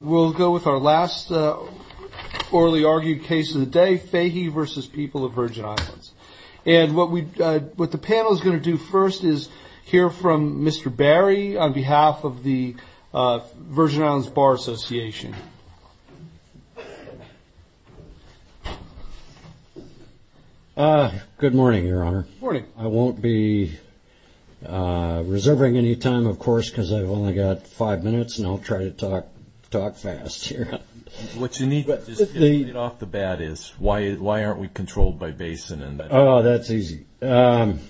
We'll go with our last orally argued case of the day, Fahie v. People of Virgin Islands. And what we, what the panel is going to do first is hear from Mr. Barry on behalf of the Virgin Islands Bar Association. Good morning, your honor. Morning. I won't be reserving any time, of course, because I've only got five minutes and I'll try to talk, talk fast here. What you need to get off the bat is why, why aren't we controlled by Basin? Oh, that's easy. The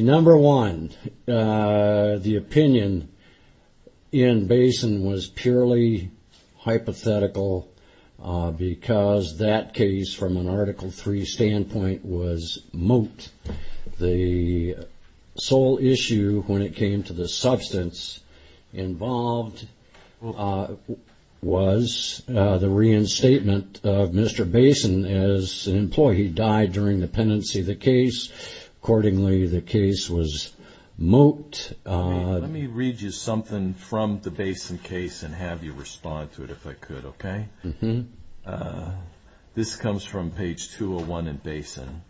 number one, the opinion in Basin was purely hypothetical because that case from an Article III standpoint was moot. The sole issue when it came to the substance involved was the reinstatement of Mr. Basin as an employee. He died during the pendency of the case. Accordingly, the case was moot. Let me read you something from the Basin case and have you respond to it if I could, okay? This comes from page 201 in Basin.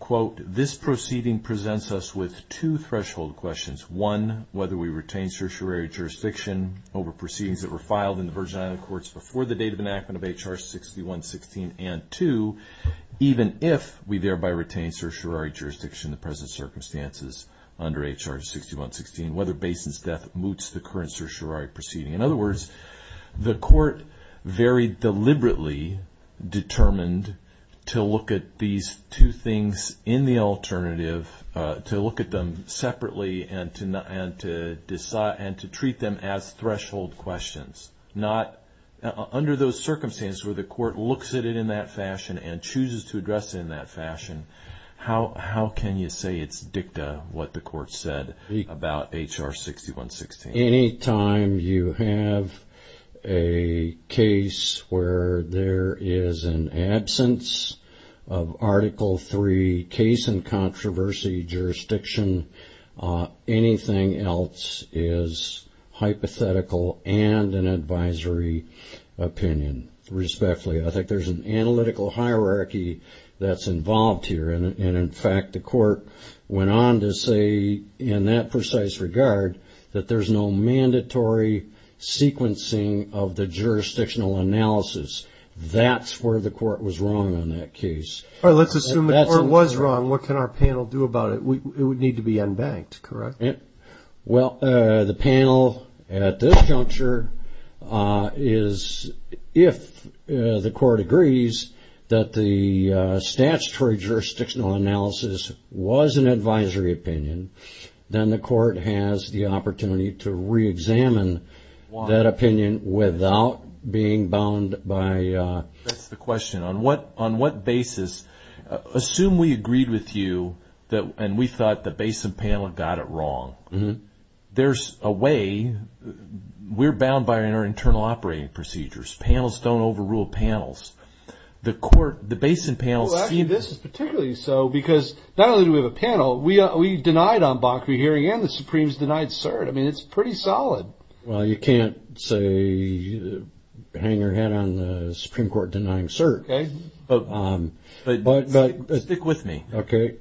Quote, this proceeding presents us with two threshold questions. One, whether we retain certiorari jurisdiction over proceedings that were filed in the Virgin Island courts before the date of enactment of H.R. 6116. And two, even if we thereby retain certiorari jurisdiction in the present circumstances under H.R. 6116, whether Basin's death moots the current certiorari proceeding. In other words, the court very deliberately determined to look at these two things in the alternative, to look at them separately and to treat them as threshold questions. Not under those circumstances where the court looks at it in that fashion and chooses to address it in that fashion. How can you say it's dicta what the court said about H.R. 6116? Anytime you have a case where there is an absence of Article III case and controversy jurisdiction, anything else is hypothetical and an advisory opinion. Respectfully, I think there's an analytical hierarchy that's involved here. And in fact, the court went on to say in that precise regard that there's no mandatory sequencing of the jurisdictional analysis. That's where the court was wrong on that case. All right, let's assume it was wrong. What can our panel do about it? It would need to be unbanked, correct? Well, the panel at this juncture is, if the court agrees that the statutory jurisdictional analysis was an advisory opinion, then the court has the opportunity to re-examine that opinion without being bound by... That's the question. On what basis? Assume we agreed with you and we thought the Basin panel got it wrong. There's a way. We're bound by our internal operating procedures. Panels don't overrule panels. The court, the Basin panel... Well, actually, this is particularly so because not only do we have a panel, we denied on Bakri hearing and the Supremes denied cert. I mean, it's pretty solid. Well, you can't say, hang your head on the Supreme Court denying cert. Okay. But stick with me. Okay.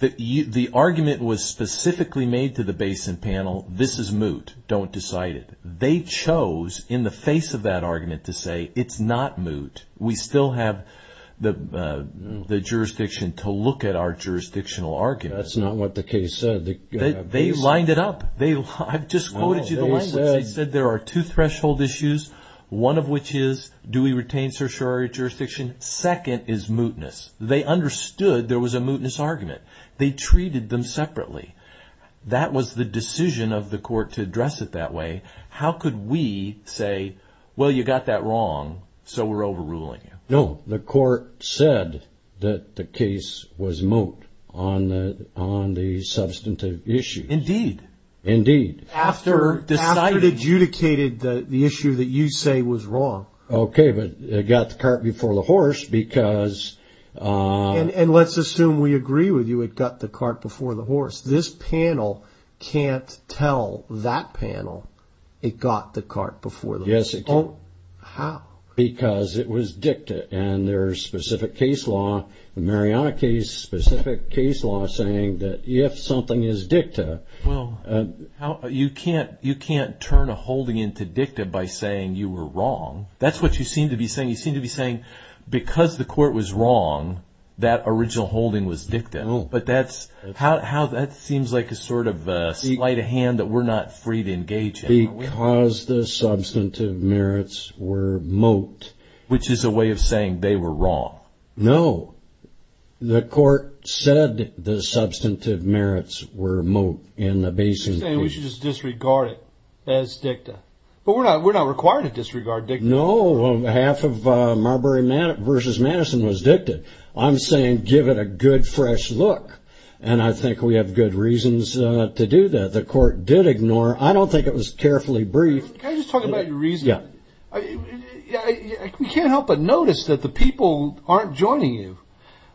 The argument was specifically made to the Basin panel, this is moot. Don't decide it. They chose in the face of that argument to say, it's not moot. We still have the jurisdiction to look at our jurisdictional argument. That's not what the case said. They lined it up. I've just quoted you the language. They said there are two threshold issues, one of which is, do we retain certiorari jurisdiction? Second is mootness. They understood there was a mootness argument. They treated them separately. That was the decision of the court to address it that way. How could we say, well, you got that wrong, so we're overruling you? No, the court said that the case was moot on the substantive issue. Indeed. Indeed. After it adjudicated the issue that you say was wrong. Okay, but it got the cart before the horse because- And let's assume we agree with you. It got the cart before the horse. This panel can't tell that panel it got the cart before the horse. Yes, it can. How? Because it was dicta and there's specific case law, the Mariana case, specific case law saying that if something is dicta- Well, you can't turn a holding into dicta by saying you were wrong. That's what you seem to be saying. You seem to be saying because the court was wrong, that original holding was dicta. But that seems like a slight of hand that we're not free to engage in. Because the substantive merits were moot. Which is a way of saying they were wrong. No. The court said the substantive merits were moot in the Basin case. You're saying we should just disregard it as dicta. But we're not required to disregard dicta. No, half of Marbury versus Madison was dicta. I'm saying give it a good fresh look. And I think we have good reasons to do that. The court did ignore. I don't think it was carefully briefed. Can I just talk about your reasoning? Yeah. We can't help but notice that the people aren't joining you.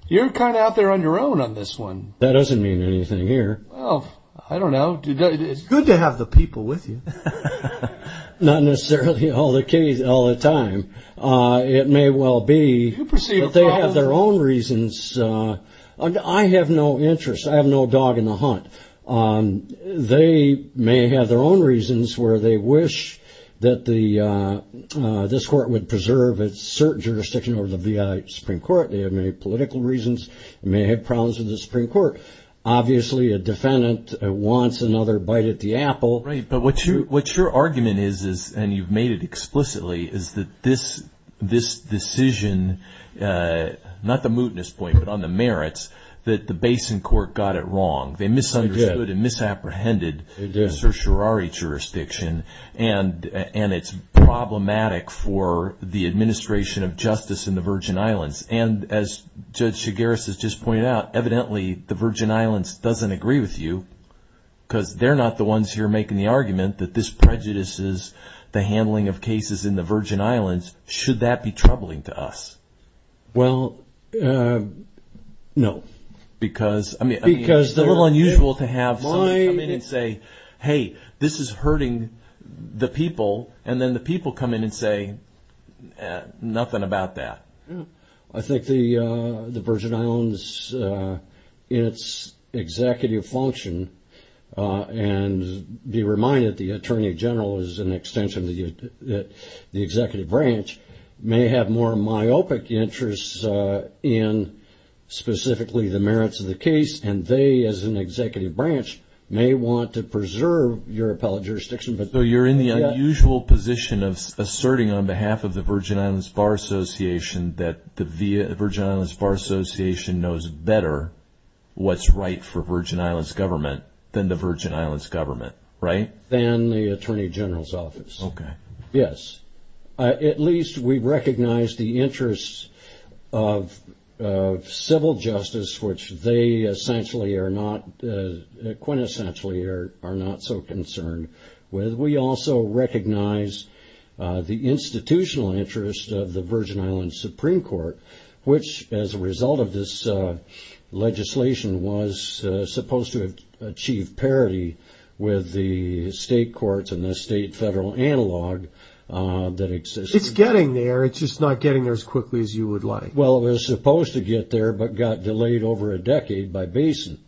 You're kind of out there on your own on this one. That doesn't mean anything here. Well, I don't know. It's good to have the people with you. Not necessarily all the time. It may well be that they have their own reasons. I have no interest. I have no dog in the hunt. They may have their own reasons where they wish that this court would preserve its jurisdiction over the V.I. Supreme Court. They have many political reasons. They may have problems with the Supreme Court. Obviously, a defendant wants another bite at the apple. What your argument is, and you've made it explicitly, is that this decision, not the mootness point, but on the merits, that the Basin court got it wrong. They misunderstood and misapprehended the certiorari jurisdiction. And it's problematic for the administration of justice in the Virgin Islands. And as Judge Chigueras has just pointed out, evidently, the Virgin Islands doesn't agree with you. Because they're not the ones here making the argument that this prejudices the handling of cases in the Virgin Islands. Should that be troubling to us? Well, no. Because it's a little unusual to have somebody come in and say, hey, this is hurting the people. And then the people come in and say nothing about that. I think the Virgin Islands, in its executive function, and be reminded, the attorney general is an extension of the executive branch, may have more myopic interests in specifically the merits of the case. And they, as an executive branch, may want to preserve your appellate jurisdiction. But you're in the unusual position of asserting on behalf of the Virgin Islands Bar Association that the Virgin Islands Bar Association knows better what's right for Virgin Islands government than the Virgin Islands government, right? Than the attorney general's office. Okay. Yes. At least we recognize the interests of civil justice, which they quintessentially are not so concerned with. We also recognize the institutional interest of the Virgin Islands Supreme Court, which, as a result of this legislation, was supposed to achieve parity with the state courts and the state federal analog that exists. It's getting there. It's just not getting there as quickly as you would like. Well, it was supposed to get there, but got delayed over a decade by Basin.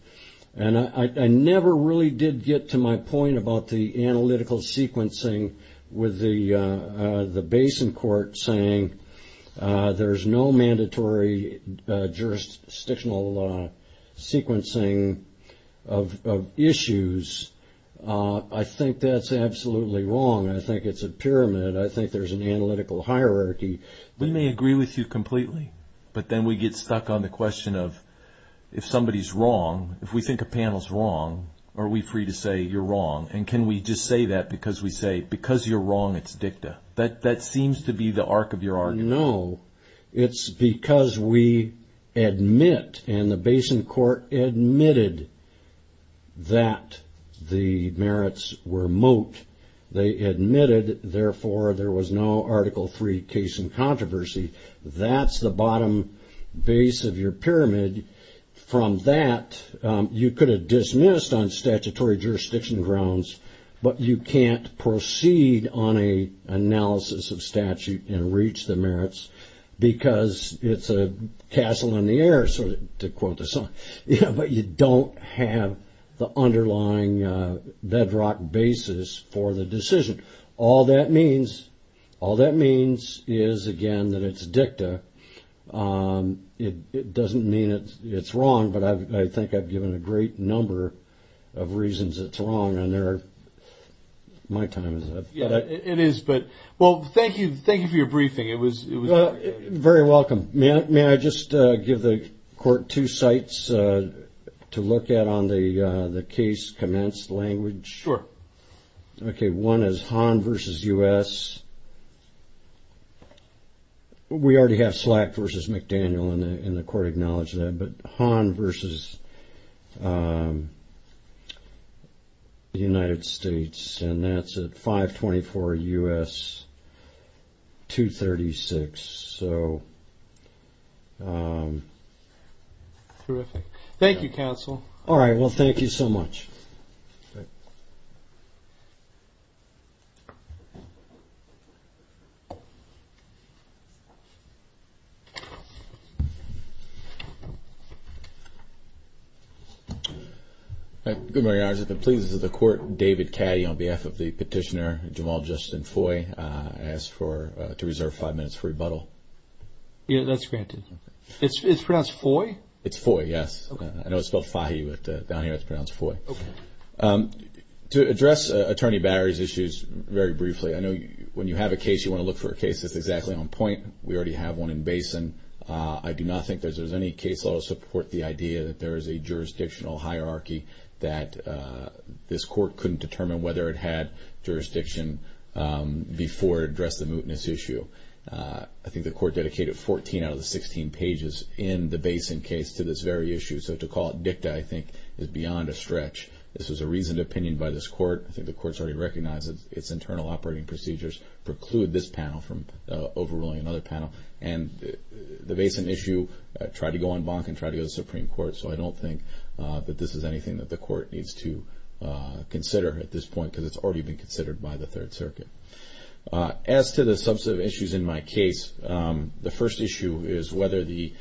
And I never really did get to my point about the analytical sequencing with the Basin court saying there's no mandatory jurisdictional sequencing of issues. I think it's a pyramid. I think there's an analytical hierarchy. We may agree with you completely, but then we get stuck on the question of if somebody's wrong, if we think a panel's wrong, are we free to say you're wrong? And can we just say that because we say because you're wrong, it's dicta? That seems to be the arc of your argument. No. It's because we admit, and the Basin court admitted that the merits were moat. They admitted, therefore, there was no Article III case in controversy. That's the bottom base of your pyramid. From that, you could have dismissed on statutory jurisdiction grounds, but you can't proceed on an analysis of statute and reach the merits because it's a castle in the air, to quote the song. But you don't have the underlying bedrock basis for the decision. All that means is, again, that it's dicta. It doesn't mean it's wrong, but I think I've given a great number of reasons it's wrong. My time is up. Yeah, it is. Well, thank you for your briefing. Very welcome. May I just give the court two sites to look at on the case commenced language? Sure. Okay, one is Hahn versus U.S. We already have Slack versus McDaniel, and the court acknowledged that. But Hahn versus the United States, and that's at 524 U.S. 236. So... Terrific. Thank you, counsel. All right, well, thank you so much. Good morning, I was at the pleas of the court. David Caddy on behalf of the petitioner, Jamal Justin Foy, asked to reserve five minutes for rebuttal. Yeah, that's granted. It's pronounced Foy? It's Foy, yes. I know it's spelled Fahy, but down here it's pronounced Foy. To address Attorney Barry's issues very briefly, I know when you have a case, you want to look for a case that's exactly on point. We already have one in Basin. I do not think there's any case law to support the idea that there is a jurisdictional hierarchy that this court couldn't determine whether it had jurisdiction before it addressed the mootness issue. I think the court dedicated 14 out of the 16 pages in the Basin case to this very issue. So to call it dicta, I think, is beyond a stretch. This was a reasoned opinion by this court. I think the court's already recognized its internal operating procedures preclude this panel from overruling another panel. And the Basin issue tried to go on bonk and tried to go to the Supreme Court. So I don't think that this is anything that the court needs to consider at this point, because it's already been considered by the Third Circuit. As to the substantive issues in my case, the first issue is whether the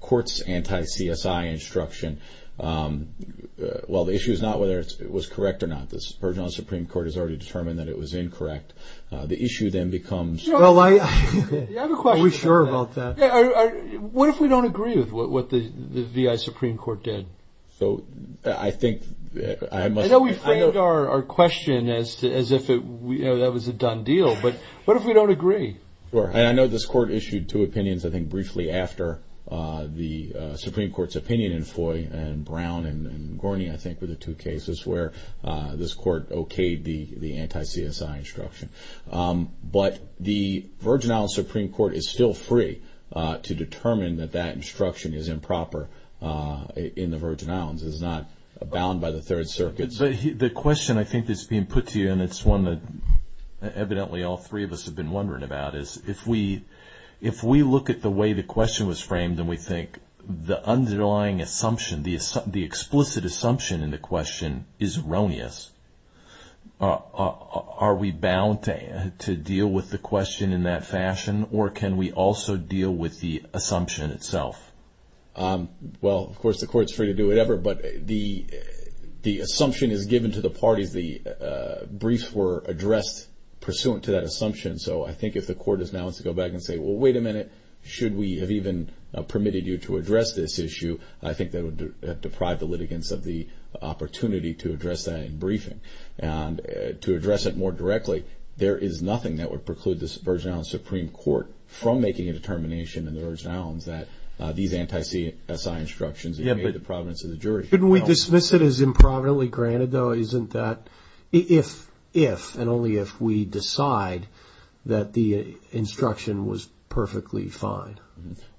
court's anti-CSI instruction... Well, the issue is not whether it was correct or not. The Supreme Court has already determined that it was incorrect. The issue then becomes... Well, I have a question. Are we sure about that? What if we don't agree with what the V.I. Supreme Court did? I know we framed our question as if that was a done deal. But what if we don't agree? Sure. And I know this court issued two opinions, I think, briefly after the Supreme Court's opinion in Foy and Brown and Gorny, I think, were the two cases where this court okayed the anti-CSI instruction. But the V.I. Supreme Court is still free to determine that that instruction is improper in the Virgin Islands. It's not bound by the Third Circuit. But the question I think that's being put to you, and it's one that evidently all three of us have been wondering about, is if we look at the way the question was framed, and we think the underlying assumption, the explicit assumption in the question is erroneous, are we bound to deal with the question in that fashion? Or can we also deal with the assumption itself? Well, of course, the court's free to do whatever. But the assumption is given to the parties. The briefs were addressed pursuant to that assumption. So I think if the court is now to go back and say, well, wait a minute. Should we have even permitted you to address this issue? I think that would deprive the litigants of the opportunity to address that in briefing. And to address it more directly, there is nothing that would preclude the Virgin Islands Supreme Court from making a determination in the Virgin Islands that these anti-CSI instructions are made in the providence of the jury. Couldn't we dismiss it as improvidently granted, though? Isn't that if and only if we decide that the instruction was perfectly fine?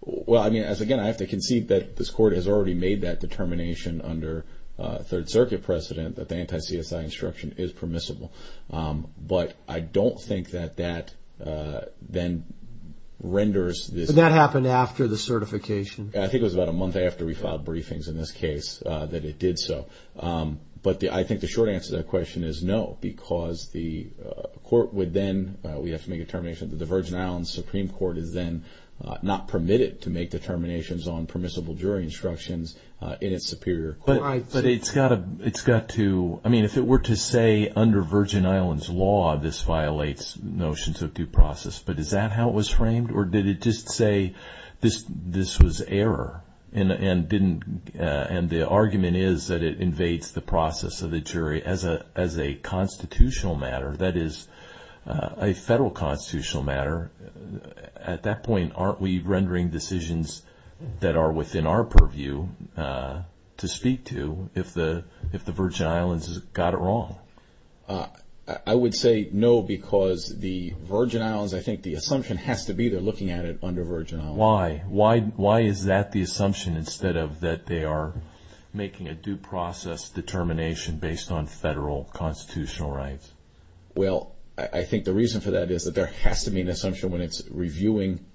Well, again, I have to concede that this court has already made that determination under Third Circuit precedent that the anti-CSI instruction is permissible. But I don't think that that then renders this... Did that happen after the certification? I think it was about a month after we filed briefings in this case that it did so. But I think the short answer to that question is no. Because the court would then... We have to make a determination that the Virgin Islands Supreme Court is then not permitted to make determinations on permissible jury instructions in its superior court. But it's got to... I mean, if it were to say under Virgin Islands law, this violates notions of due process, but is that how it was framed? Or did it just say this was error? And the argument is that it invades the process of the jury as a constitutional matter, that is, a federal constitutional matter. At that point, aren't we rendering decisions that are within our purview to speak to if the Virgin Islands got it wrong? I would say no, because the Virgin Islands, I think the assumption has to be they're looking at it under Virgin Islands law. Why? Why is that the assumption instead of that they are making a due process determination based on federal constitutional rights? Well, I think the reason for that is that there has to be an assumption when it's reviewing...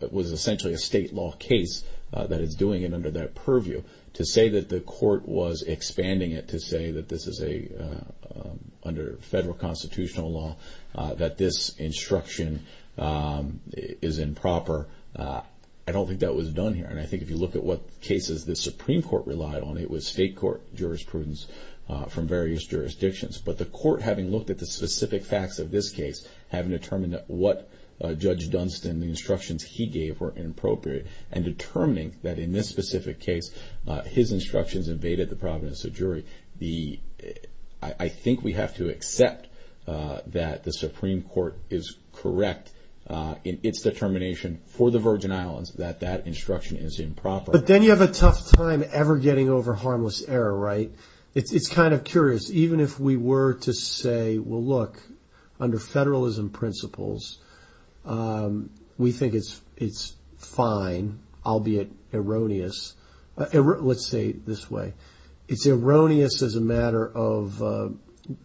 It was essentially a state law case that is doing it under that purview to say that the court was expanding it to say that this is a... Under federal constitutional law, that this instruction is improper. I don't think that was done here. And I think if you look at what cases the Supreme Court relied on, it was state court jurisprudence from various jurisdictions. But the court, having looked at the specific facts of this case, having determined that what Judge Dunstan, the instructions he gave were inappropriate, and determining that in this specific case, his instructions invaded the providence of jury. I think we have to accept that the Supreme Court is correct in its determination for the Virgin Islands that that instruction is improper. But then you have a tough time ever getting over harmless error, right? It's kind of curious. Even if we were to say, well, look, under federalism principles, we think it's fine, albeit erroneous. Let's say it this way. It's erroneous as a matter of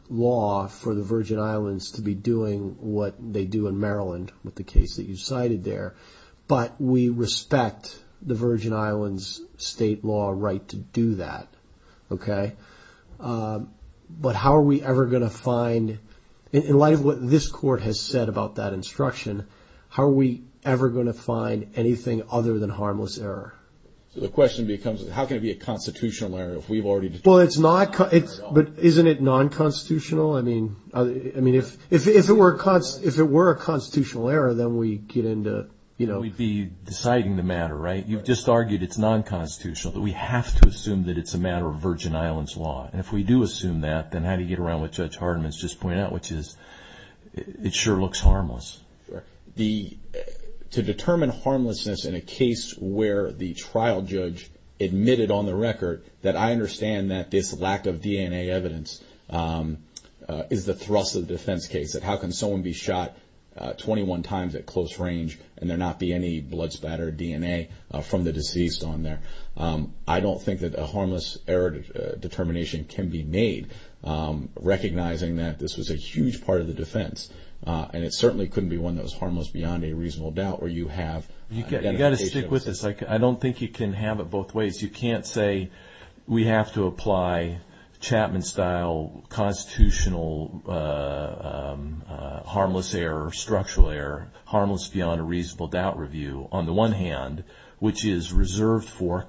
law for the Virgin Islands to be doing what they do in Maryland with the case that you cited there. But we respect the Virgin Islands state law right to do that. Okay. But how are we ever going to find, in light of what this court has said about that instruction, how are we ever going to find anything other than harmless error? So the question becomes, how can it be a constitutional error if we've already... Well, it's not, but isn't it non-constitutional? I mean, if it were a constitutional error, then we get into, you know... We'd be deciding the matter, right? You've just argued it's non-constitutional, but we have to assume that it's a matter of Virgin Islands law. And if we do assume that, then how do you get around what Judge Hardiman's just pointed out, which is it sure looks harmless. To determine harmlessness in a case where the trial judge admitted on the record that I understand that this lack of DNA evidence is the thrust of the defense case, that how can someone be shot 21 times at close range and there not be any blood spatter DNA from the deceased on there? I don't think that a harmless error determination can be made, recognizing that this was a huge part of the defense. And it certainly couldn't be one that was harmless beyond a reasonable doubt where you have identification... You've got to stick with this. I don't think you can have it both ways. You can't say we have to apply Chapman-style constitutional harmless error, structural error, harmless beyond a reasonable doubt review, on the one hand, which is reserved for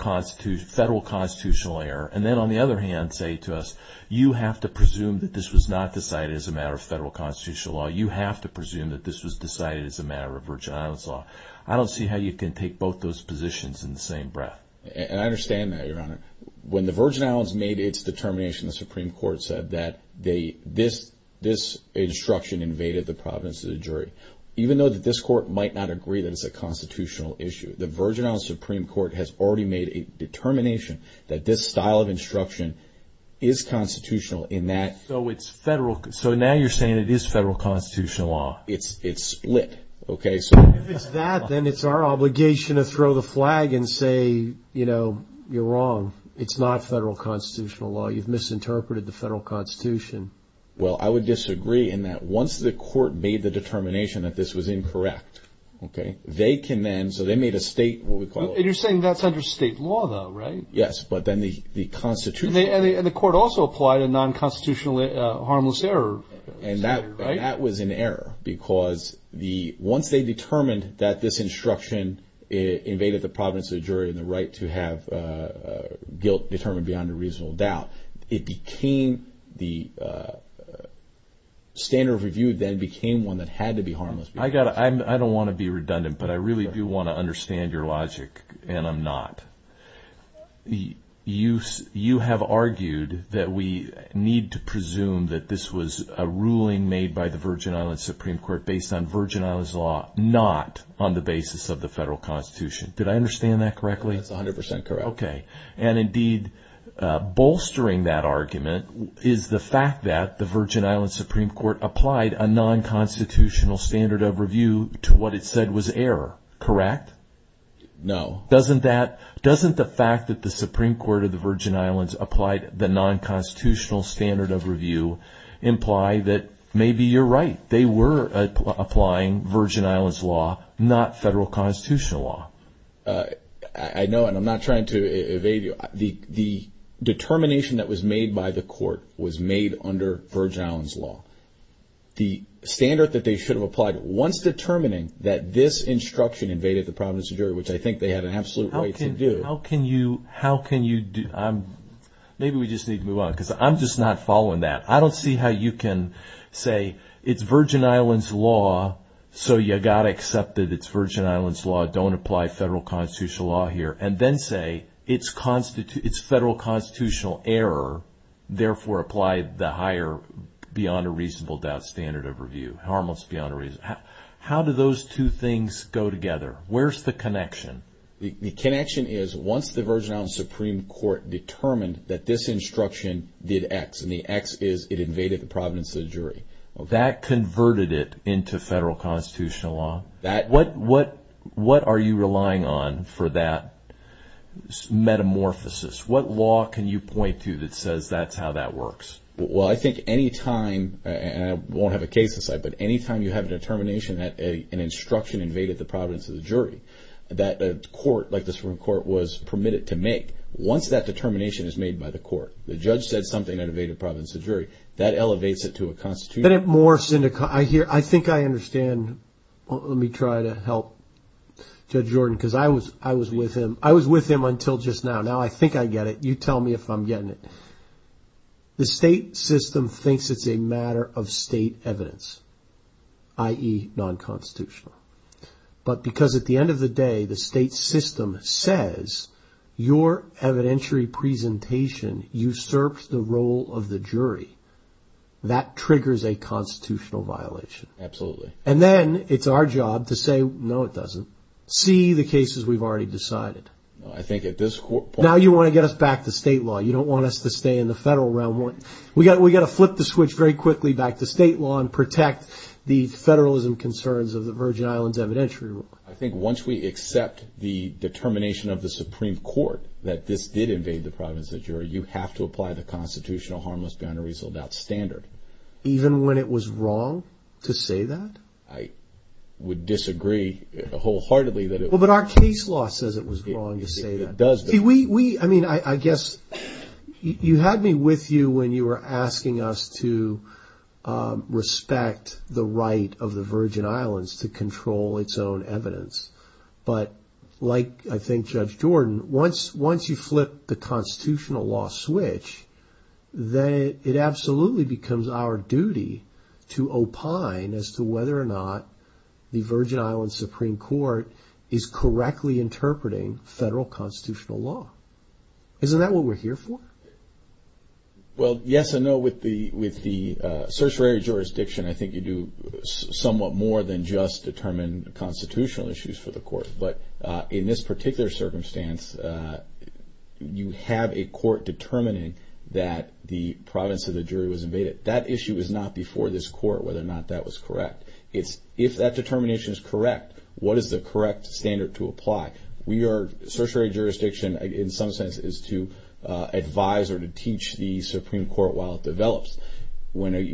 federal constitutional error. And then on the other hand, say to us, you have to presume that this was not decided as a matter of federal constitutional law. You have to presume that this was decided as a matter of Virgin Islands law. I don't see how you can take both those positions in the same breath. And I understand that, Your Honor. When the Virgin Islands made its determination, the Supreme Court said that this instruction invaded the providence of the jury. Even though that this court might not agree that it's a constitutional issue, the Virgin Islands Supreme Court has already made a determination that this style of instruction is constitutional in that... So it's federal. So now you're saying it is federal constitutional law. It's split. Okay, so... If it's that, then it's our obligation to throw the flag and say, you know, you're wrong. It's not federal constitutional law. You've misinterpreted the federal constitution. Well, I would disagree in that once the court made the determination that this was incorrect, okay, they can then... So they made a state, what we call... You're saying that's under state law, though, right? Yes, but then the constitution... And the court also applied a non-constitutional harmless error. And that was an error because once they determined that this instruction invaded the providence of the jury and the right to have guilt determined beyond a reasonable doubt, it became... The standard of review then became one that had to be harmless. I don't want to be redundant, but I really do want to understand your logic, and I'm not. You have argued that we need to presume that this was a ruling made by the Virgin Islands Supreme Court based on Virgin Islands law, not on the basis of the federal constitution. Did I understand that correctly? That's 100% correct. Okay. And indeed, bolstering that argument is the fact that the Virgin Islands Supreme Court applied a non-constitutional standard of review to what it said was error, correct? No. Doesn't that... Doesn't the fact that the Supreme Court of the Virgin Islands applied the non-constitutional standard of review imply that maybe you're right? They were applying Virgin Islands law, not federal constitutional law. I know, and I'm not trying to evade you. The determination that was made by the court was made under Virgin Islands law. The standard that they should have applied, once determining that this instruction invaded the providence of the jury, which I think they had an absolute right to do... How can you... How can you... Maybe we just need to move on, because I'm just not following that. I don't see how you can say, it's Virgin Islands law, so you got accepted. It's Virgin Islands law, don't apply federal constitutional law here. And then say, it's federal constitutional error, therefore apply the higher, beyond a reasonable doubt, standard of review. Harmless beyond a reasonable... How do those two things go together? Where's the connection? The connection is, once the Virgin Islands Supreme Court determined that this instruction did X, and the X is it invaded the providence of the jury. That converted it into federal constitutional law? What are you relying on for that metamorphosis? What law can you point to that says, that's how that works? Well, I think anytime, and I won't have a case in sight, but anytime you have a determination that an instruction invaded the providence of the jury, that a court, like the Supreme Court, was permitted to make. Once that determination is made by the court, the judge said something that invaded the providence of the jury, that elevates it to a constitutional... I think I understand. Let me try to help Judge Jordan, because I was with him until just now. Now I think I get it. You tell me if I'm getting it. The state system thinks it's a matter of state evidence, i.e. non-constitutional. But because at the end of the day, the state system says, your evidentiary presentation usurps the role of the jury, that triggers a constitutional violation. Absolutely. And then it's our job to say, no it doesn't. See the cases we've already decided. I think at this point... Now you want to get us back to state law. You don't want us to stay in the federal realm. We've got to flip the switch very quickly back to state law and protect the federalism concerns of the Virgin Islands evidentiary rule. I think once we accept the determination of the Supreme Court that this did invade the Virgin Islands, we have to apply the Constitutional Harmless Beyond a Reasonable Doubt standard. Even when it was wrong to say that? I would disagree wholeheartedly that it was wrong. But our case law says it was wrong to say that. It does. See, we... I mean, I guess you had me with you when you were asking us to respect the right of the Virgin Islands to control its own evidence. But like I think Judge Jordan, once you flip the constitutional law switch, then it absolutely becomes our duty to opine as to whether or not the Virgin Islands Supreme Court is correctly interpreting federal constitutional law. Isn't that what we're here for? Well, yes and no. With the certiorari jurisdiction, I think you do somewhat more than just determine constitutional issues for the court. But in this particular circumstance, you have a court determining that the province of the jury was invaded. That issue is not before this court whether or not that was correct. It's if that determination is correct, what is the correct standard to apply? We are... Certiorari jurisdiction, in some sense, is to advise or to teach the Supreme Court while it develops. We can't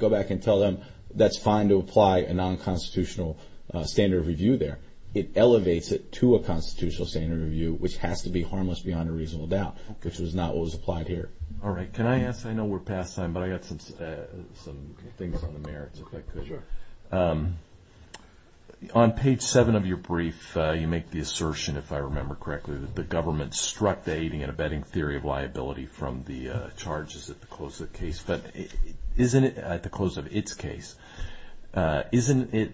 go back and tell them that's fine to apply a non-constitutional standard review there. It elevates it to a constitutional standard review, which has to be harmless beyond a reasonable doubt, which was not what was applied here. All right. Can I ask... I know we're past time, but I got some things on the merits, if I could. Sure. On page seven of your brief, you make the assertion, if I remember correctly, that the government struck the aiding and abetting theory of liability from the charges that close the case. Isn't it, at the close of its case, isn't it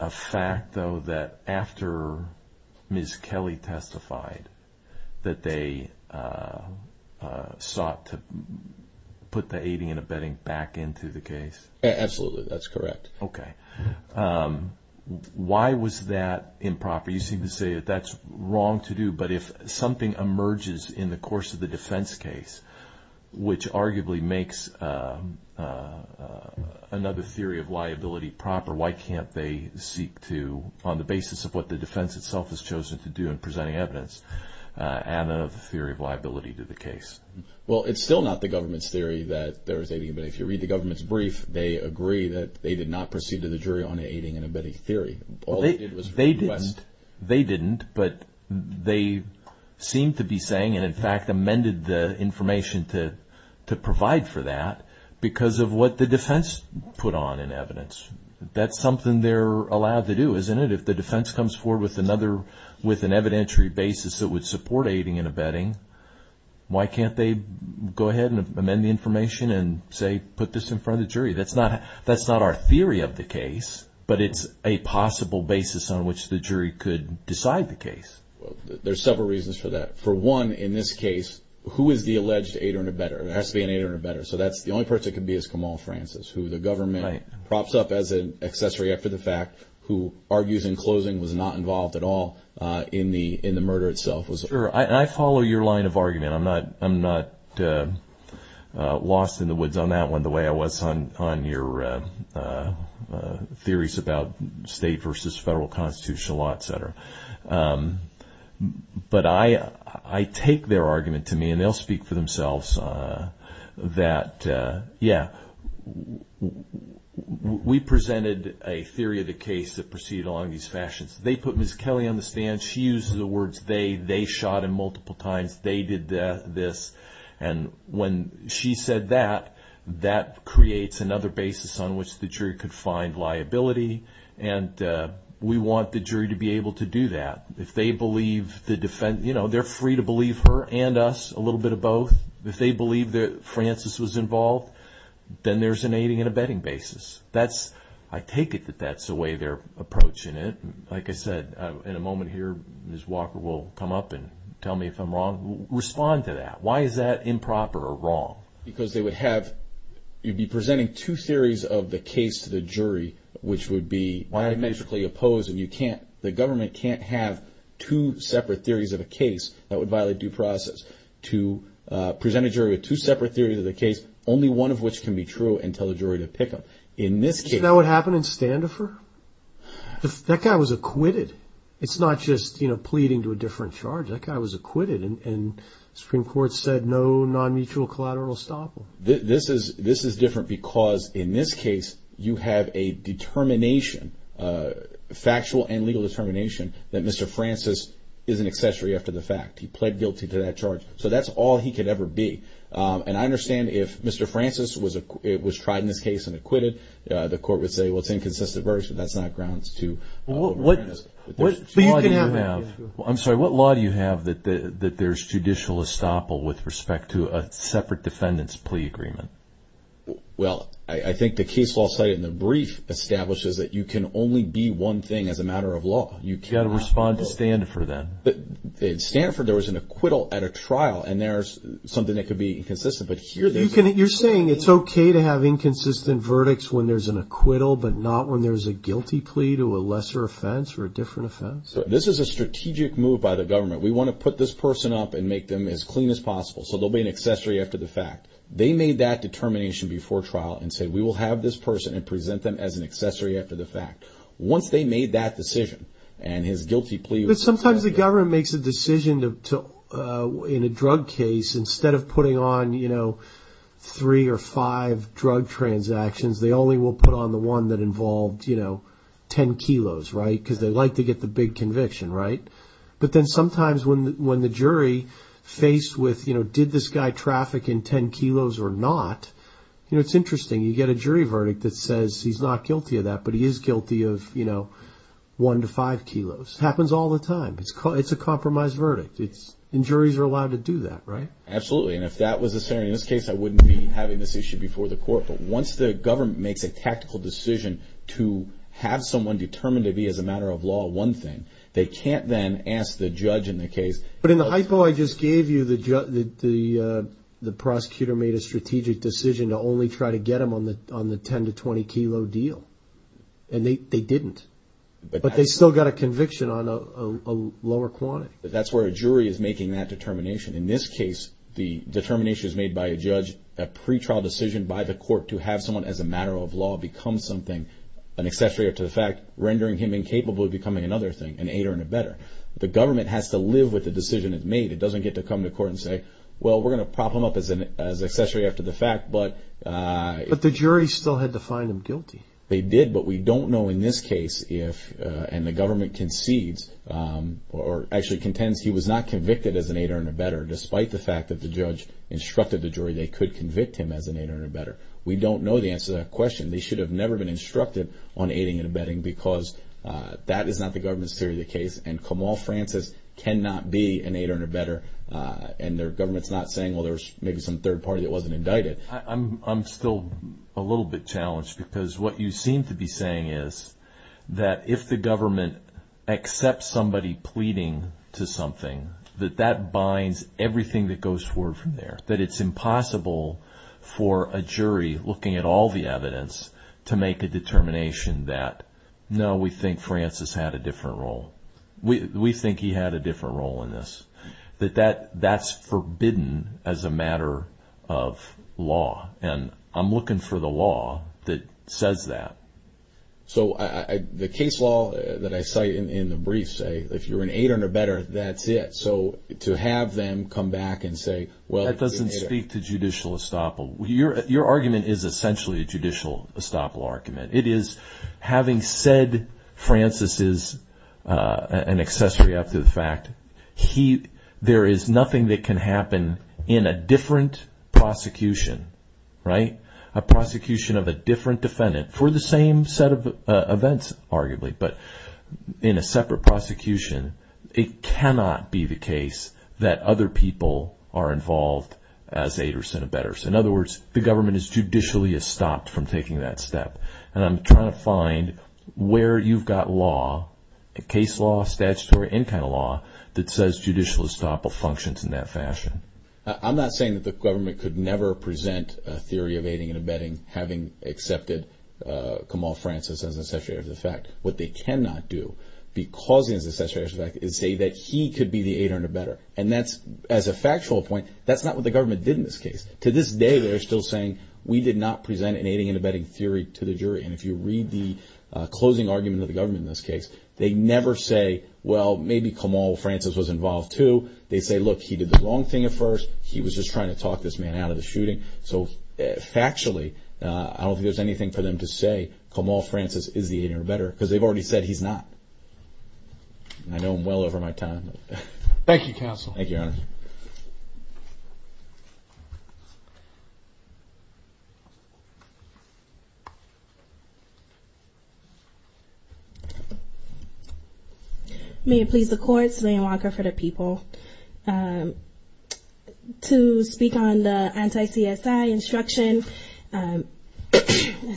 a fact, though, that after Ms. Kelly testified that they sought to put the aiding and abetting back into the case? Absolutely. That's correct. Okay. Why was that improper? You seem to say that that's wrong to do, but if something emerges in the course of the case, another theory of liability proper, why can't they seek to, on the basis of what the defense itself has chosen to do in presenting evidence, add another theory of liability to the case? Well, it's still not the government's theory that there was aiding and abetting. If you read the government's brief, they agree that they did not proceed to the jury on the aiding and abetting theory. All they did was request... They didn't. They didn't, but they seem to be saying, and in fact amended the information to provide for that because of what the defense put on in evidence. That's something they're allowed to do, isn't it? If the defense comes forward with another, with an evidentiary basis that would support aiding and abetting, why can't they go ahead and amend the information and say, put this in front of the jury? That's not our theory of the case, but it's a possible basis on which the jury could decide the case. There's several reasons for that. For one, in this case, who is the alleged aider and abetter? There has to be an aider and abetter. That's the only person that could be is Kamal Francis, who the government props up as an accessory after the fact, who argues in closing was not involved at all in the murder itself. Sure. I follow your line of argument. I'm not lost in the woods on that one the way I was on your theories about state versus federal constitutional law, et cetera. But I take their argument to me, and they'll speak for themselves, that, yeah, we presented a theory of the case that proceeded along these fashions. They put Ms. Kelly on the stand. She uses the words they. They shot him multiple times. They did this. And when she said that, that creates another basis on which the jury could find liability. And we want the jury to be able to do that. If they believe the defense, they're free to believe her and us, a little bit of both. If they believe that Francis was involved, then there's an aiding and abetting basis. I take it that that's the way they're approaching it. Like I said, in a moment here, Ms. Walker will come up and tell me if I'm wrong. Why is that improper or wrong? Because they would have, you'd be presenting two theories of the case to the jury, which would be biometrically opposed, and you can't, the government can't have two separate theories of a case that would violate due process. To present a jury with two separate theories of the case, only one of which can be true and tell the jury to pick them. In this case. Is that what happened in Standifir? That guy was acquitted. It's not just, you know, pleading to a different charge. That guy was acquitted, and the Supreme Court said no non-mutual collateral estoppel. This is different because in this case, you have a determination, a factual and legal determination that Mr. Francis is an accessory after the fact. He pled guilty to that charge. So that's all he could ever be. And I understand if Mr. Francis was tried in this case and acquitted, the court would say, well, it's inconsistent version. That's not grounds to. What do you have? I'm sorry, what law do you have that there's judicial estoppel with respect to a separate defendant's plea agreement? Well, I think the case law cited in the brief establishes that you can only be one thing as a matter of law. You got to respond to Standifir then. But in Standifir, there was an acquittal at a trial, and there's something that could be inconsistent. But here, you're saying it's okay to have inconsistent verdicts when there's an acquittal, but not when there's a guilty plea to a lesser offense or a different offense. This is a strategic move by the government. We want to put this person up and make them as clean as possible. So there'll be an accessory after the fact. They made that determination before trial and said, we will have this person and present them as an accessory after the fact. Once they made that decision and his guilty plea. Sometimes the government makes a decision to in a drug case instead of putting on, you on the one that involved, you know, 10 kilos, right? Because they like to get the big conviction, right? But then sometimes when the jury faced with, you know, did this guy traffic in 10 kilos or not? You know, it's interesting. You get a jury verdict that says he's not guilty of that, but he is guilty of, you know, one to five kilos. Happens all the time. It's a compromised verdict. And juries are allowed to do that, right? Absolutely. And if that was the scenario in this case, I wouldn't be having this issue before the court. Once the government makes a tactical decision to have someone determined to be as a matter of law, one thing they can't then ask the judge in the case. But in the hypo, I just gave you the, the, uh, the prosecutor made a strategic decision to only try to get them on the, on the 10 to 20 kilo deal. And they, they didn't, but they still got a conviction on a lower quantity. That's where a jury is making that determination. In this case, the determination is made by a judge, a pretrial decision by the court to have someone as a matter of law, become something, an accessory to the fact, rendering him incapable of becoming another thing and eight or in a better, the government has to live with the decision it's made. It doesn't get to come to court and say, well, we're going to prop them up as an, as accessory after the fact. But, uh, but the jury still had to find him guilty. They did. But we don't know in this case if, uh, and the government concedes, um, or actually contends he was not convicted as an eight or in a better, despite the fact that the judge instructed the jury, they could convict him as an eight or in a better. We don't know the answer to that question. They should have never been instructed on aiding and abetting because, uh, that is not the government's theory of the case. And Kamal Francis cannot be an eight or in a better. Uh, and their government's not saying, well, there's maybe some third party that wasn't indicted. I'm, I'm still a little bit challenged because what you seem to be saying is that if the that binds everything that goes forward from there, that it's impossible for a jury looking at all the evidence to make a determination that, no, we think Francis had a different role. We, we think he had a different role in this, that, that that's forbidden as a matter of law. And I'm looking for the law that says that. So I, I, the case law that I cite in the brief say, if you're an eight or in a better, that's it. So to have them come back and say, well, it doesn't speak to judicial estoppel, your, your argument is essentially a judicial estoppel argument. It is having said Francis is, uh, an accessory up to the fact he, there is nothing that can happen in a different prosecution, right? A prosecution of a different defendant for the same set of events, arguably, but in a separate prosecution. It cannot be the case that other people are involved as eight or Senate betters. In other words, the government is judicially stopped from taking that step. And I'm trying to find where you've got law, a case law, statutory, any kind of law that says judicial estoppel functions in that fashion. Uh, I'm not saying that the government could never present a theory of aiding and abetting having accepted, uh, Kamal Francis as an accessory of the fact what they cannot do because he is say that he could be the eight or better. And that's as a factual point, that's not what the government did in this case. To this day, they're still saying we did not present an aiding and abetting theory to the jury. And if you read the closing argument of the government, in this case, they never say, well, maybe Kamal Francis was involved too. They say, look, he did the wrong thing at first. He was just trying to talk this man out of the shooting. So factually, uh, I don't think there's anything for them to say. Kamal Francis is the eight or better because they've already said he's not. I know him well over my time. Thank you, counsel. Thank you, Your Honor. May it please the court. Celine Walker for the people. Um, to speak on the anti-CSI instruction. Um,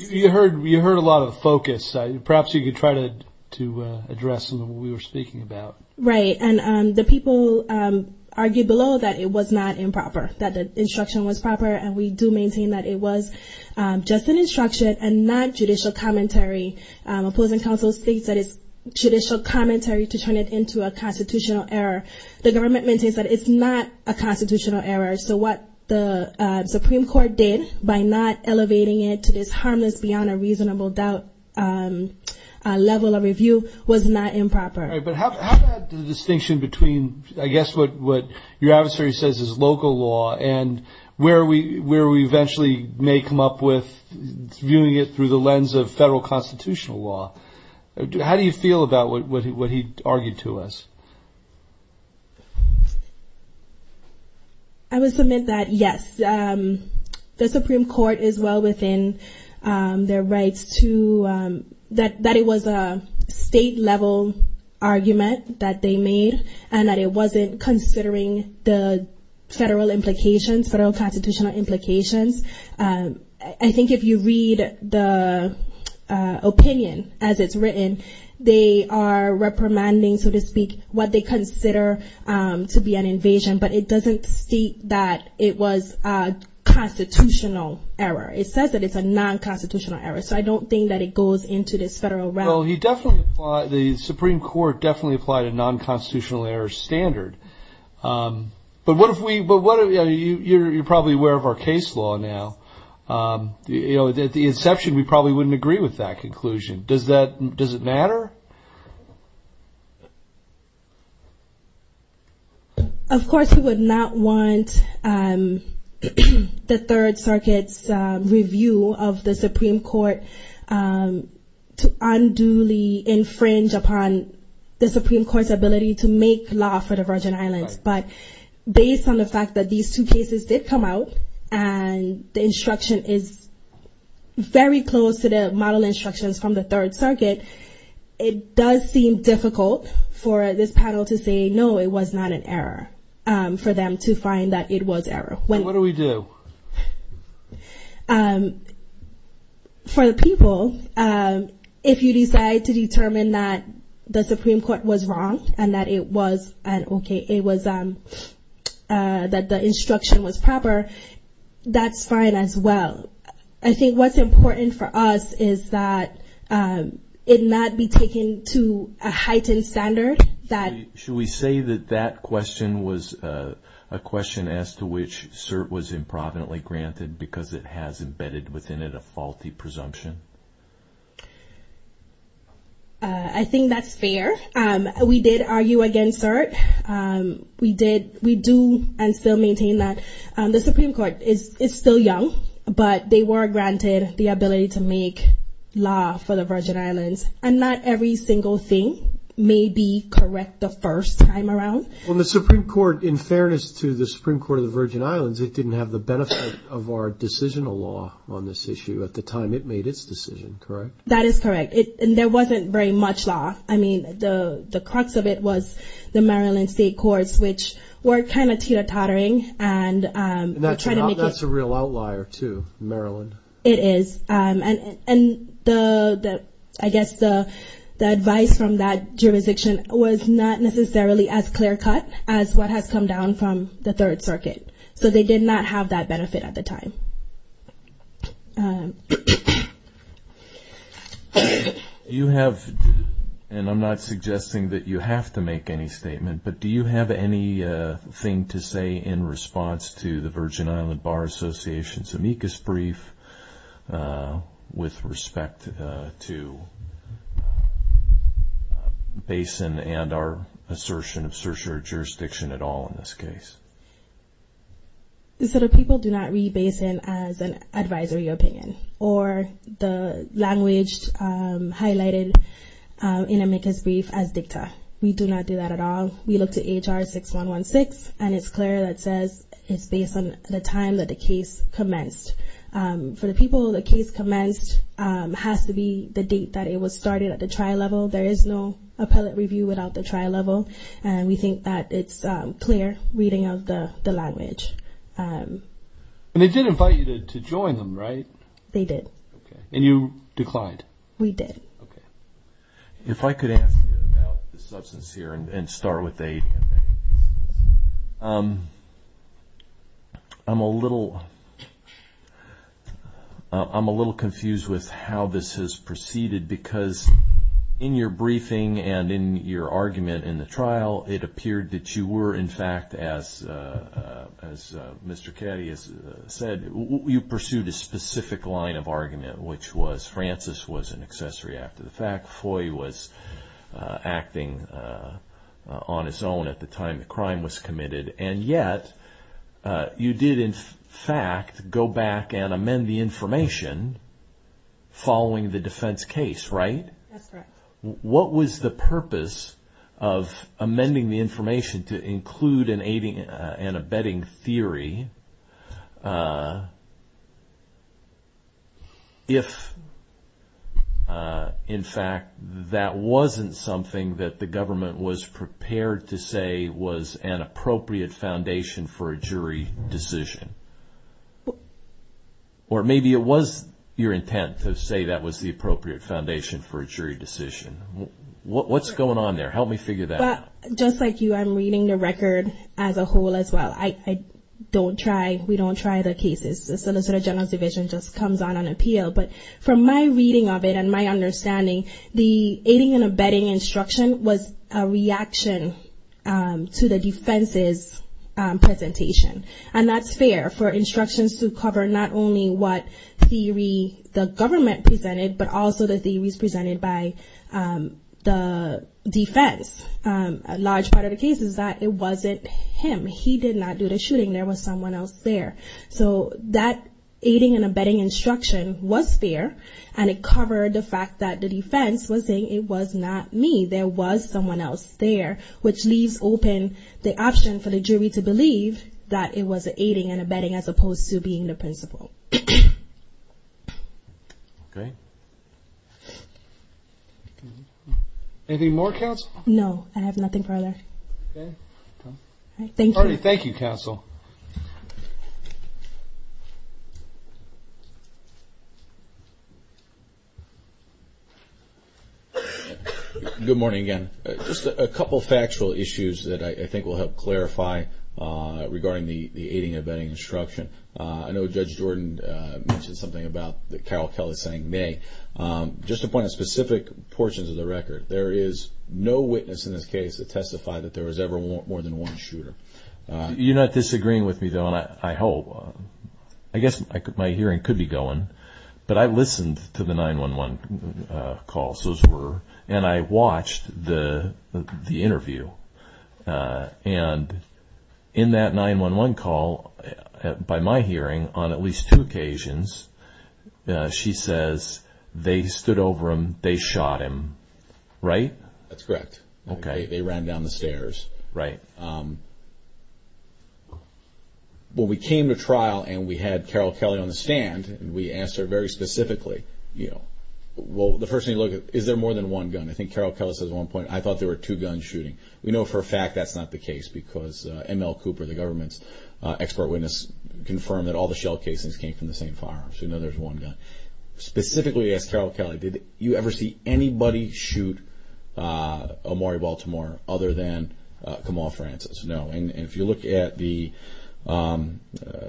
you heard, you heard a lot of focus. Perhaps you could try to, to address what we were speaking about. Right. And, um, the people, um, argue below that it was not improper, that the instruction was proper. And we do maintain that it was, um, just an instruction and not judicial commentary. Um, opposing counsel states that it's judicial commentary to turn it into a constitutional error. The government maintains that it's not a constitutional error. So what the, uh, Supreme court did by not elevating it to this harmless beyond a reasonable doubt, um, uh, level of review was not improper. All right. But how, how about the distinction between, I guess, what, what your adversary says is local law and where we, where we eventually may come up with viewing it through the lens of federal constitutional law. How do you feel about what, what he, what he argued to us? I would submit that yes, um, the Supreme court is well within, um, their rights to, um, that, that it was a state level argument that they made and that it wasn't considering the federal implications, federal constitutional implications. Um, I think if you read the, uh, uh, opinion as it's written, they are reprimanding, so to speak, what they consider, um, to be an invasion, but it doesn't state that it was, uh, constitutional error. It says that it's a non-constitutional error. So I don't think that it goes into this federal realm. Well, he definitely, the Supreme court definitely applied a non-constitutional error standard. Um, but what if we, but what are you, you're, you're probably aware of our case law now. Um, you know, at the inception, we probably wouldn't agree with that conclusion. Does that, does it matter? Of course, we would not want, um, the third circuit's, uh, review of the Supreme court, um, to unduly infringe upon the Supreme court's ability to make law for the Virgin islands. But based on the fact that these two cases did come out and the instruction is very close to the model instructions from the third circuit, it does seem difficult for the Supreme court panel to say, no, it was not an error, um, for them to find that it was error. When, what do we do? Um, for the people, um, if you decide to determine that the Supreme court was wrong and that it was an okay, it was, um, uh, that the instruction was proper, that's fine as well. I think what's important for us is that, um, it not be taken to a heightened standard. Should we say that that question was, uh, a question as to which CERT was improvidently granted because it has embedded within it a faulty presumption? Uh, I think that's fair. Um, we did argue against CERT. Um, we did, we do and still maintain that, um, the Supreme court is, is still young, but they were granted the ability to make law for the Virgin islands. And not every single thing may be correct the first time around. When the Supreme court, in fairness to the Supreme court of the Virgin islands, it didn't have the benefit of our decisional law on this issue at the time it made its decision. Correct? That is correct. It, and there wasn't very much law. I mean, the, the crux of it was the Maryland state courts, which were kind of teeter tottering and, um, And that's not, that's a real outlier to Maryland. It is. Um, and, and the, the, I guess the, the advice from that jurisdiction was not necessarily as clear cut as what has come down from the third circuit. So they did not have that benefit at the time. Um, you have, and I'm not suggesting that you have to make any statement, but do you have any, uh, thing to say in response to the Virgin island bar association's amicus brief, uh, with respect to, uh, to basin and our assertion of searcher jurisdiction at all in this case? So the people do not read basin as an advisory opinion or the language, um, highlighted, um, in amicus brief as dicta. We do not do that at all. We look to HR 6, 1 1 6. And it's clear that says it's based on the time that the case commenced, um, for the people, the case commenced, um, has to be the date that it was started at the trial level. There is no appellate review without the trial level. And we think that it's, um, clear reading of the language. Um, And they did invite you to, to join them, right? They did. And you declined. We did. Okay. If I could ask you about the substance here and start with a, um, I'm a little, I'm a little confused with how this has proceeded because in your briefing and in your argument in the trial, it appeared that you were in fact, as, uh, uh, as, uh, Mr. Caddy has said, you pursued a fact FOIA was, uh, acting, uh, uh, on his own at the time the crime was committed. And yet, uh, you did in fact, go back and amend the information following the defense case, right? What was the purpose of amending the information to include an aiding and abetting theory? Uh, if, uh, in fact, that wasn't something that the government was prepared to say was an appropriate foundation for a jury decision. Or maybe it was your intent to say that was the appropriate foundation for a jury decision. What's going on there? Help me figure that out. Just like you, I'm reading the record as a whole as well. I don't try, we don't try the cases. The Solicitor General's division just comes on an appeal, but from my reading of it and my understanding, the aiding and abetting instruction was a reaction, um, to the defense's, um, presentation. And that's fair for instructions to cover not only what theory the government presented, but also the theories presented by, um, the defense. Um, a large part of the case is that it wasn't him. He did not do the shooting. There was someone else there. So that aiding and abetting instruction was fair. And it covered the fact that the defense was saying it was not me. There was someone else there, which leaves open the option for the jury to believe that it was aiding and abetting as opposed to being the principal. Okay. Anything more, Counsel? No, I have nothing further. Thank you. Thank you, Counsel. Good morning again. Just a couple factual issues that I think will help clarify, uh, regarding the aiding and abetting instruction. Uh, I know Judge Jordan, uh, mentioned something about the Carroll Kelly saying they, um, just to point out specific portions of the record, there is no witness in this case that testified that there was ever more than one shooter. You're not disagreeing with me though, and I hope, I guess my hearing could be going, but I listened to the 911, uh, calls. Those were, and I watched the, the interview, uh, and in that 911 call, uh, by my hearing on at least two occasions, uh, she says they stood over him, they shot him, right? That's correct. Okay. They ran down the stairs. Right. Um, well, we came to trial and we had Carroll Kelly on the stand and we asked her very specifically, you know, well, the first thing you look at, is there more than one gun? I think Carroll Kelly says at one point, I thought there were two guns shooting. We know for a fact that's ML Cooper, the government's, uh, expert witness confirmed that all the shell casings came from the same firearms. We know there's one gun. Specifically as Carroll Kelly, did you ever see anybody shoot, uh, Omari Baltimore other than, uh, Kamal Francis? No. And if you look at the, um,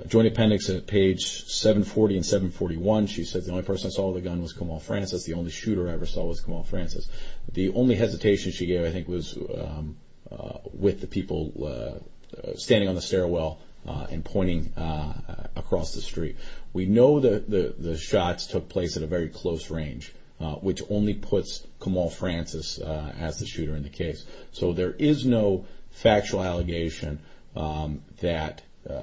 joint appendix at page 740 and 741, she says the only person that saw the gun was Kamal Francis. The only shooter I ever saw was Kamal Francis. The only hesitation she gave, I think, was, um, uh, with the people, uh, standing on the stairwell, uh, and pointing, uh, across the street. We know that the shots took place at a very close range, uh, which only puts Kamal Francis, uh, as the shooter in the case. So there is no factual allegation, um, that, uh,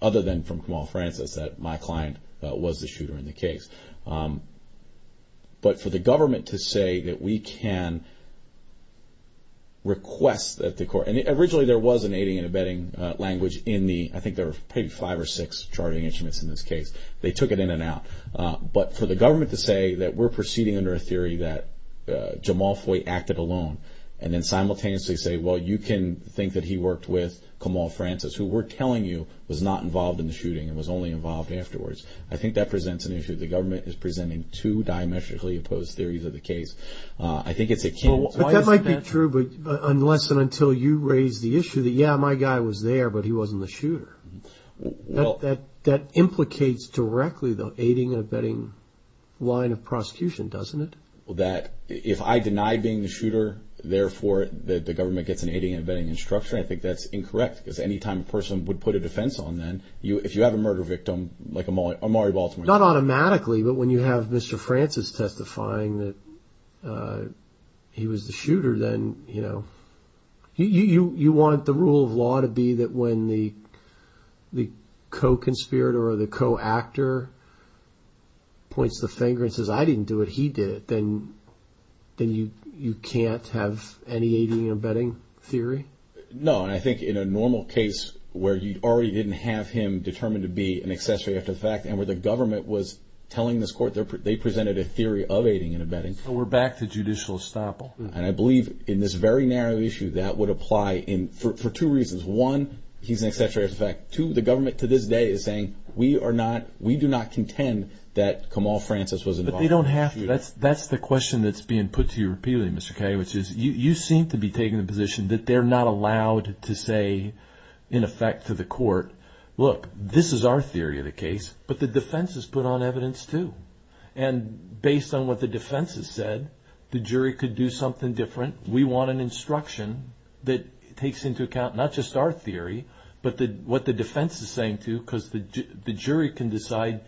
other than from Kamal Francis that my client was the shooter in the case. Um, but for the government to say that we can request that the court, and originally there was an aiding and abetting, uh, language in the, I think there were maybe five or six charting instruments in this case. They took it in and out. Uh, but for the government to say that we're proceeding under a theory that, uh, Jamal Foy acted alone and then simultaneously say, well, you can think that he worked with Kamal Francis, who we're telling you was not involved in the shooting and was only involved afterwards. I think that presents an issue. The government is presenting two diametrically opposed theories of the case. Uh, I think it's a key... But that might be true, but unless and until you raise the issue that, yeah, my guy was there, but he wasn't the shooter. That, that, that implicates directly the aiding and abetting line of prosecution, doesn't it? Well, that if I deny being the shooter, therefore the government gets an aiding and abetting instruction. I think that's incorrect because anytime a person would put a defense on them, you, if you have a murder victim, like a Maury Baltimore... Not automatically, but when you have Mr. Francis testifying that, uh, he was the shooter, then, you know, you, you, you want the rule of law to be that when the, the co-conspirator or the co-actor points the finger and says, I didn't do it, he did it, then, then you, you can't have any aiding and abetting theory? No. And I think in a normal case where you already didn't have him determined to be an accessory after the fact and where the government was telling this court they're, they presented a theory of aiding and abetting. We're back to judicial estoppel. And I believe in this very narrow issue that would apply in, for, for two reasons. One, he's an accessory as a fact. Two, the government to this day is saying we are not, we do not contend that Kamal Francis was involved. But they don't have to. That's, that's the question that's being put to you repeatedly, Mr. Kaye, which is you, you seem to be taking the position that they're not allowed to say in effect to the court, look, this is our theory of the case, but the defense has put on evidence too. And based on what the defense has said, the jury could do something different. We want an instruction that takes into account not just our theory, but the, what the defense is saying too, because the jury can decide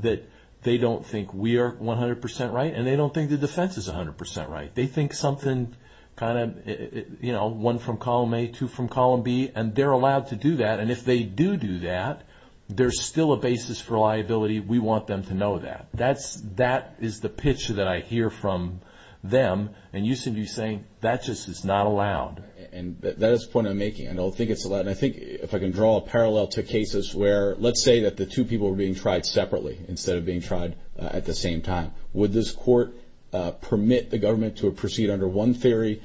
that they don't think we are 100% right. And they don't think the defense is 100% right. They think something kind of, you know, one from column A, two from column B, and they're allowed to do that. And if they do do that, there's still a basis for liability. We want them to know that. That's, that is the pitch that I hear from them. And you seem to be saying that just is not allowed. And that is the point I'm making. I don't think it's allowed. And I think if I can draw a parallel to cases where, let's say that the two people were being tried separately instead of at the same time, would this court permit the government to proceed under one theory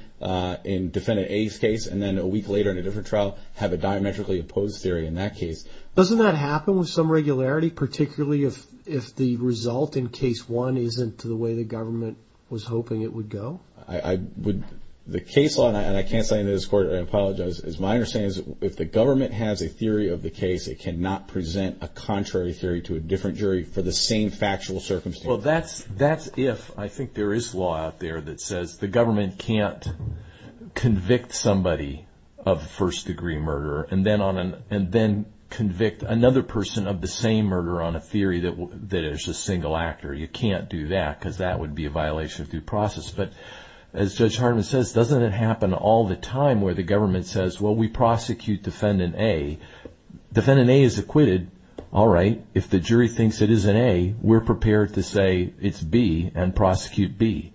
in defendant A's case, and then a week later in a different trial, have a diametrically opposed theory in that case? Doesn't that happen with some regularity, particularly if the result in case one isn't to the way the government was hoping it would go? I would, the case law, and I can't say in this court, I apologize, is my understanding is if the government has a theory of the case, it cannot present a contrary theory to a different factual circumstance. Well, that's, that's if, I think there is law out there that says the government can't convict somebody of first degree murder, and then on an, and then convict another person of the same murder on a theory that, that is a single actor. You can't do that because that would be a violation of due process. But as Judge Hartman says, doesn't it happen all the time where the government says, well, we prosecute defendant A, defendant A is acquitted. All right. If the jury thinks it is an A, we're prepared to say it's B and prosecute B.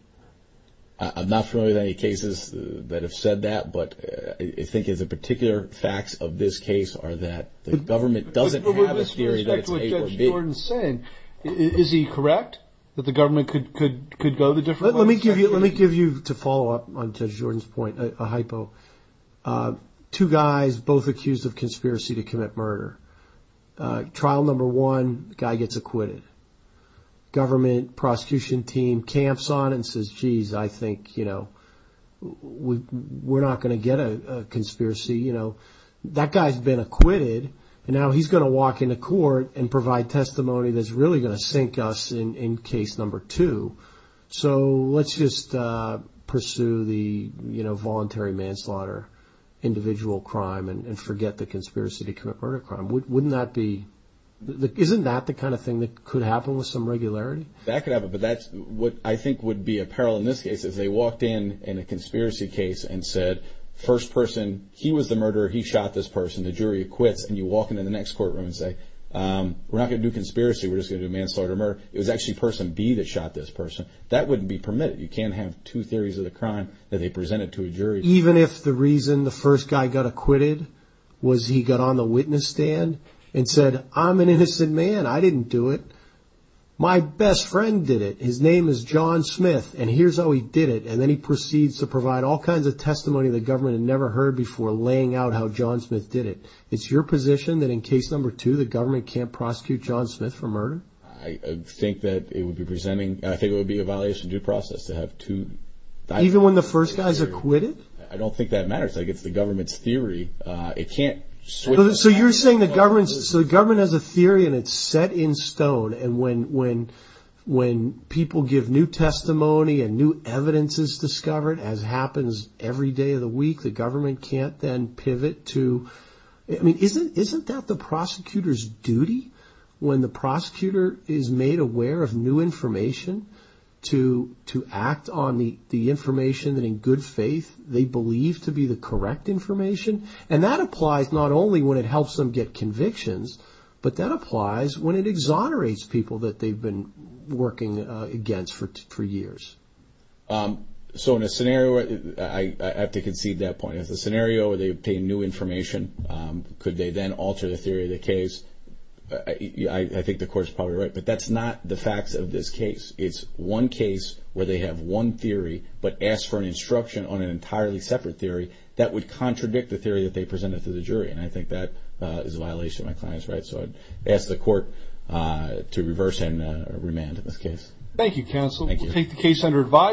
I'm not familiar with any cases that have said that, but I think as a particular facts of this case are that the government doesn't have a theory that it's A or B. With respect to what Judge Jordan is saying, is he correct that the government could, could, could go the different ways? Let me give you, let me give you to follow up on Judge Jordan's point, a hypo, two guys both accused of conspiracy to commit murder. Trial number one guy gets acquitted. Government prosecution team camps on and says, geez, I think, you know, we're not going to get a conspiracy. You know, that guy's been acquitted and now he's going to walk into court and provide testimony that's really going to sink us in case number two. So let's just pursue the, you know, voluntary manslaughter individual crime and forget the conspiracy to commit murder crime. Wouldn't that be the, isn't that the kind of thing that could happen with some regularity? That could have it, but that's what I think would be a peril in this case is they walked in in a conspiracy case and said, first person, he was the murderer. He shot this person. The jury acquits and you walk into the next courtroom and say, we're not going to do conspiracy. We're just going to manslaughter murder. It was actually person B that shot this person. That wouldn't be permitted. You can't have two theories of the crime that they presented to a jury. Even if the reason the first guy got acquitted was he got on the witness stand and said, I'm an innocent man. I didn't do it. My best friend did it. His name is John Smith and here's how he did it. And then he proceeds to provide all kinds of testimony that government had never heard before laying out how John Smith did it. It's your position that in case number two, the government can't prosecute John Smith for murder. I think that it would be presenting, I think it would be a violation of due process to have two. Even when the first guy's acquitted, I don't think that matters. I guess the government's theory, uh, it can't switch. So you're saying the government, so the government has a theory and it's set in stone. And when, when, when people give new testimony and new evidence is discovered as happens every day of the week, the government can't then pivot to, I mean, isn't, isn't that the prosecutor's duty when the prosecutor is made aware of new information to, to act on the, the information that in good faith they believe to be the correct information. And that applies not only when it helps them get convictions, but that applies when it exonerates people that they've been working against for, for years. Um, so in a scenario, I have to concede that as a scenario where they obtain new information, um, could they then alter the theory of the case? I think the court's probably right, but that's not the facts of this case. It's one case where they have one theory, but ask for an instruction on an entirely separate theory that would contradict the theory that they presented to the jury. And I think that, uh, is a violation of my client's rights. So I'd ask the court, uh, to reverse and, uh, remand in this case.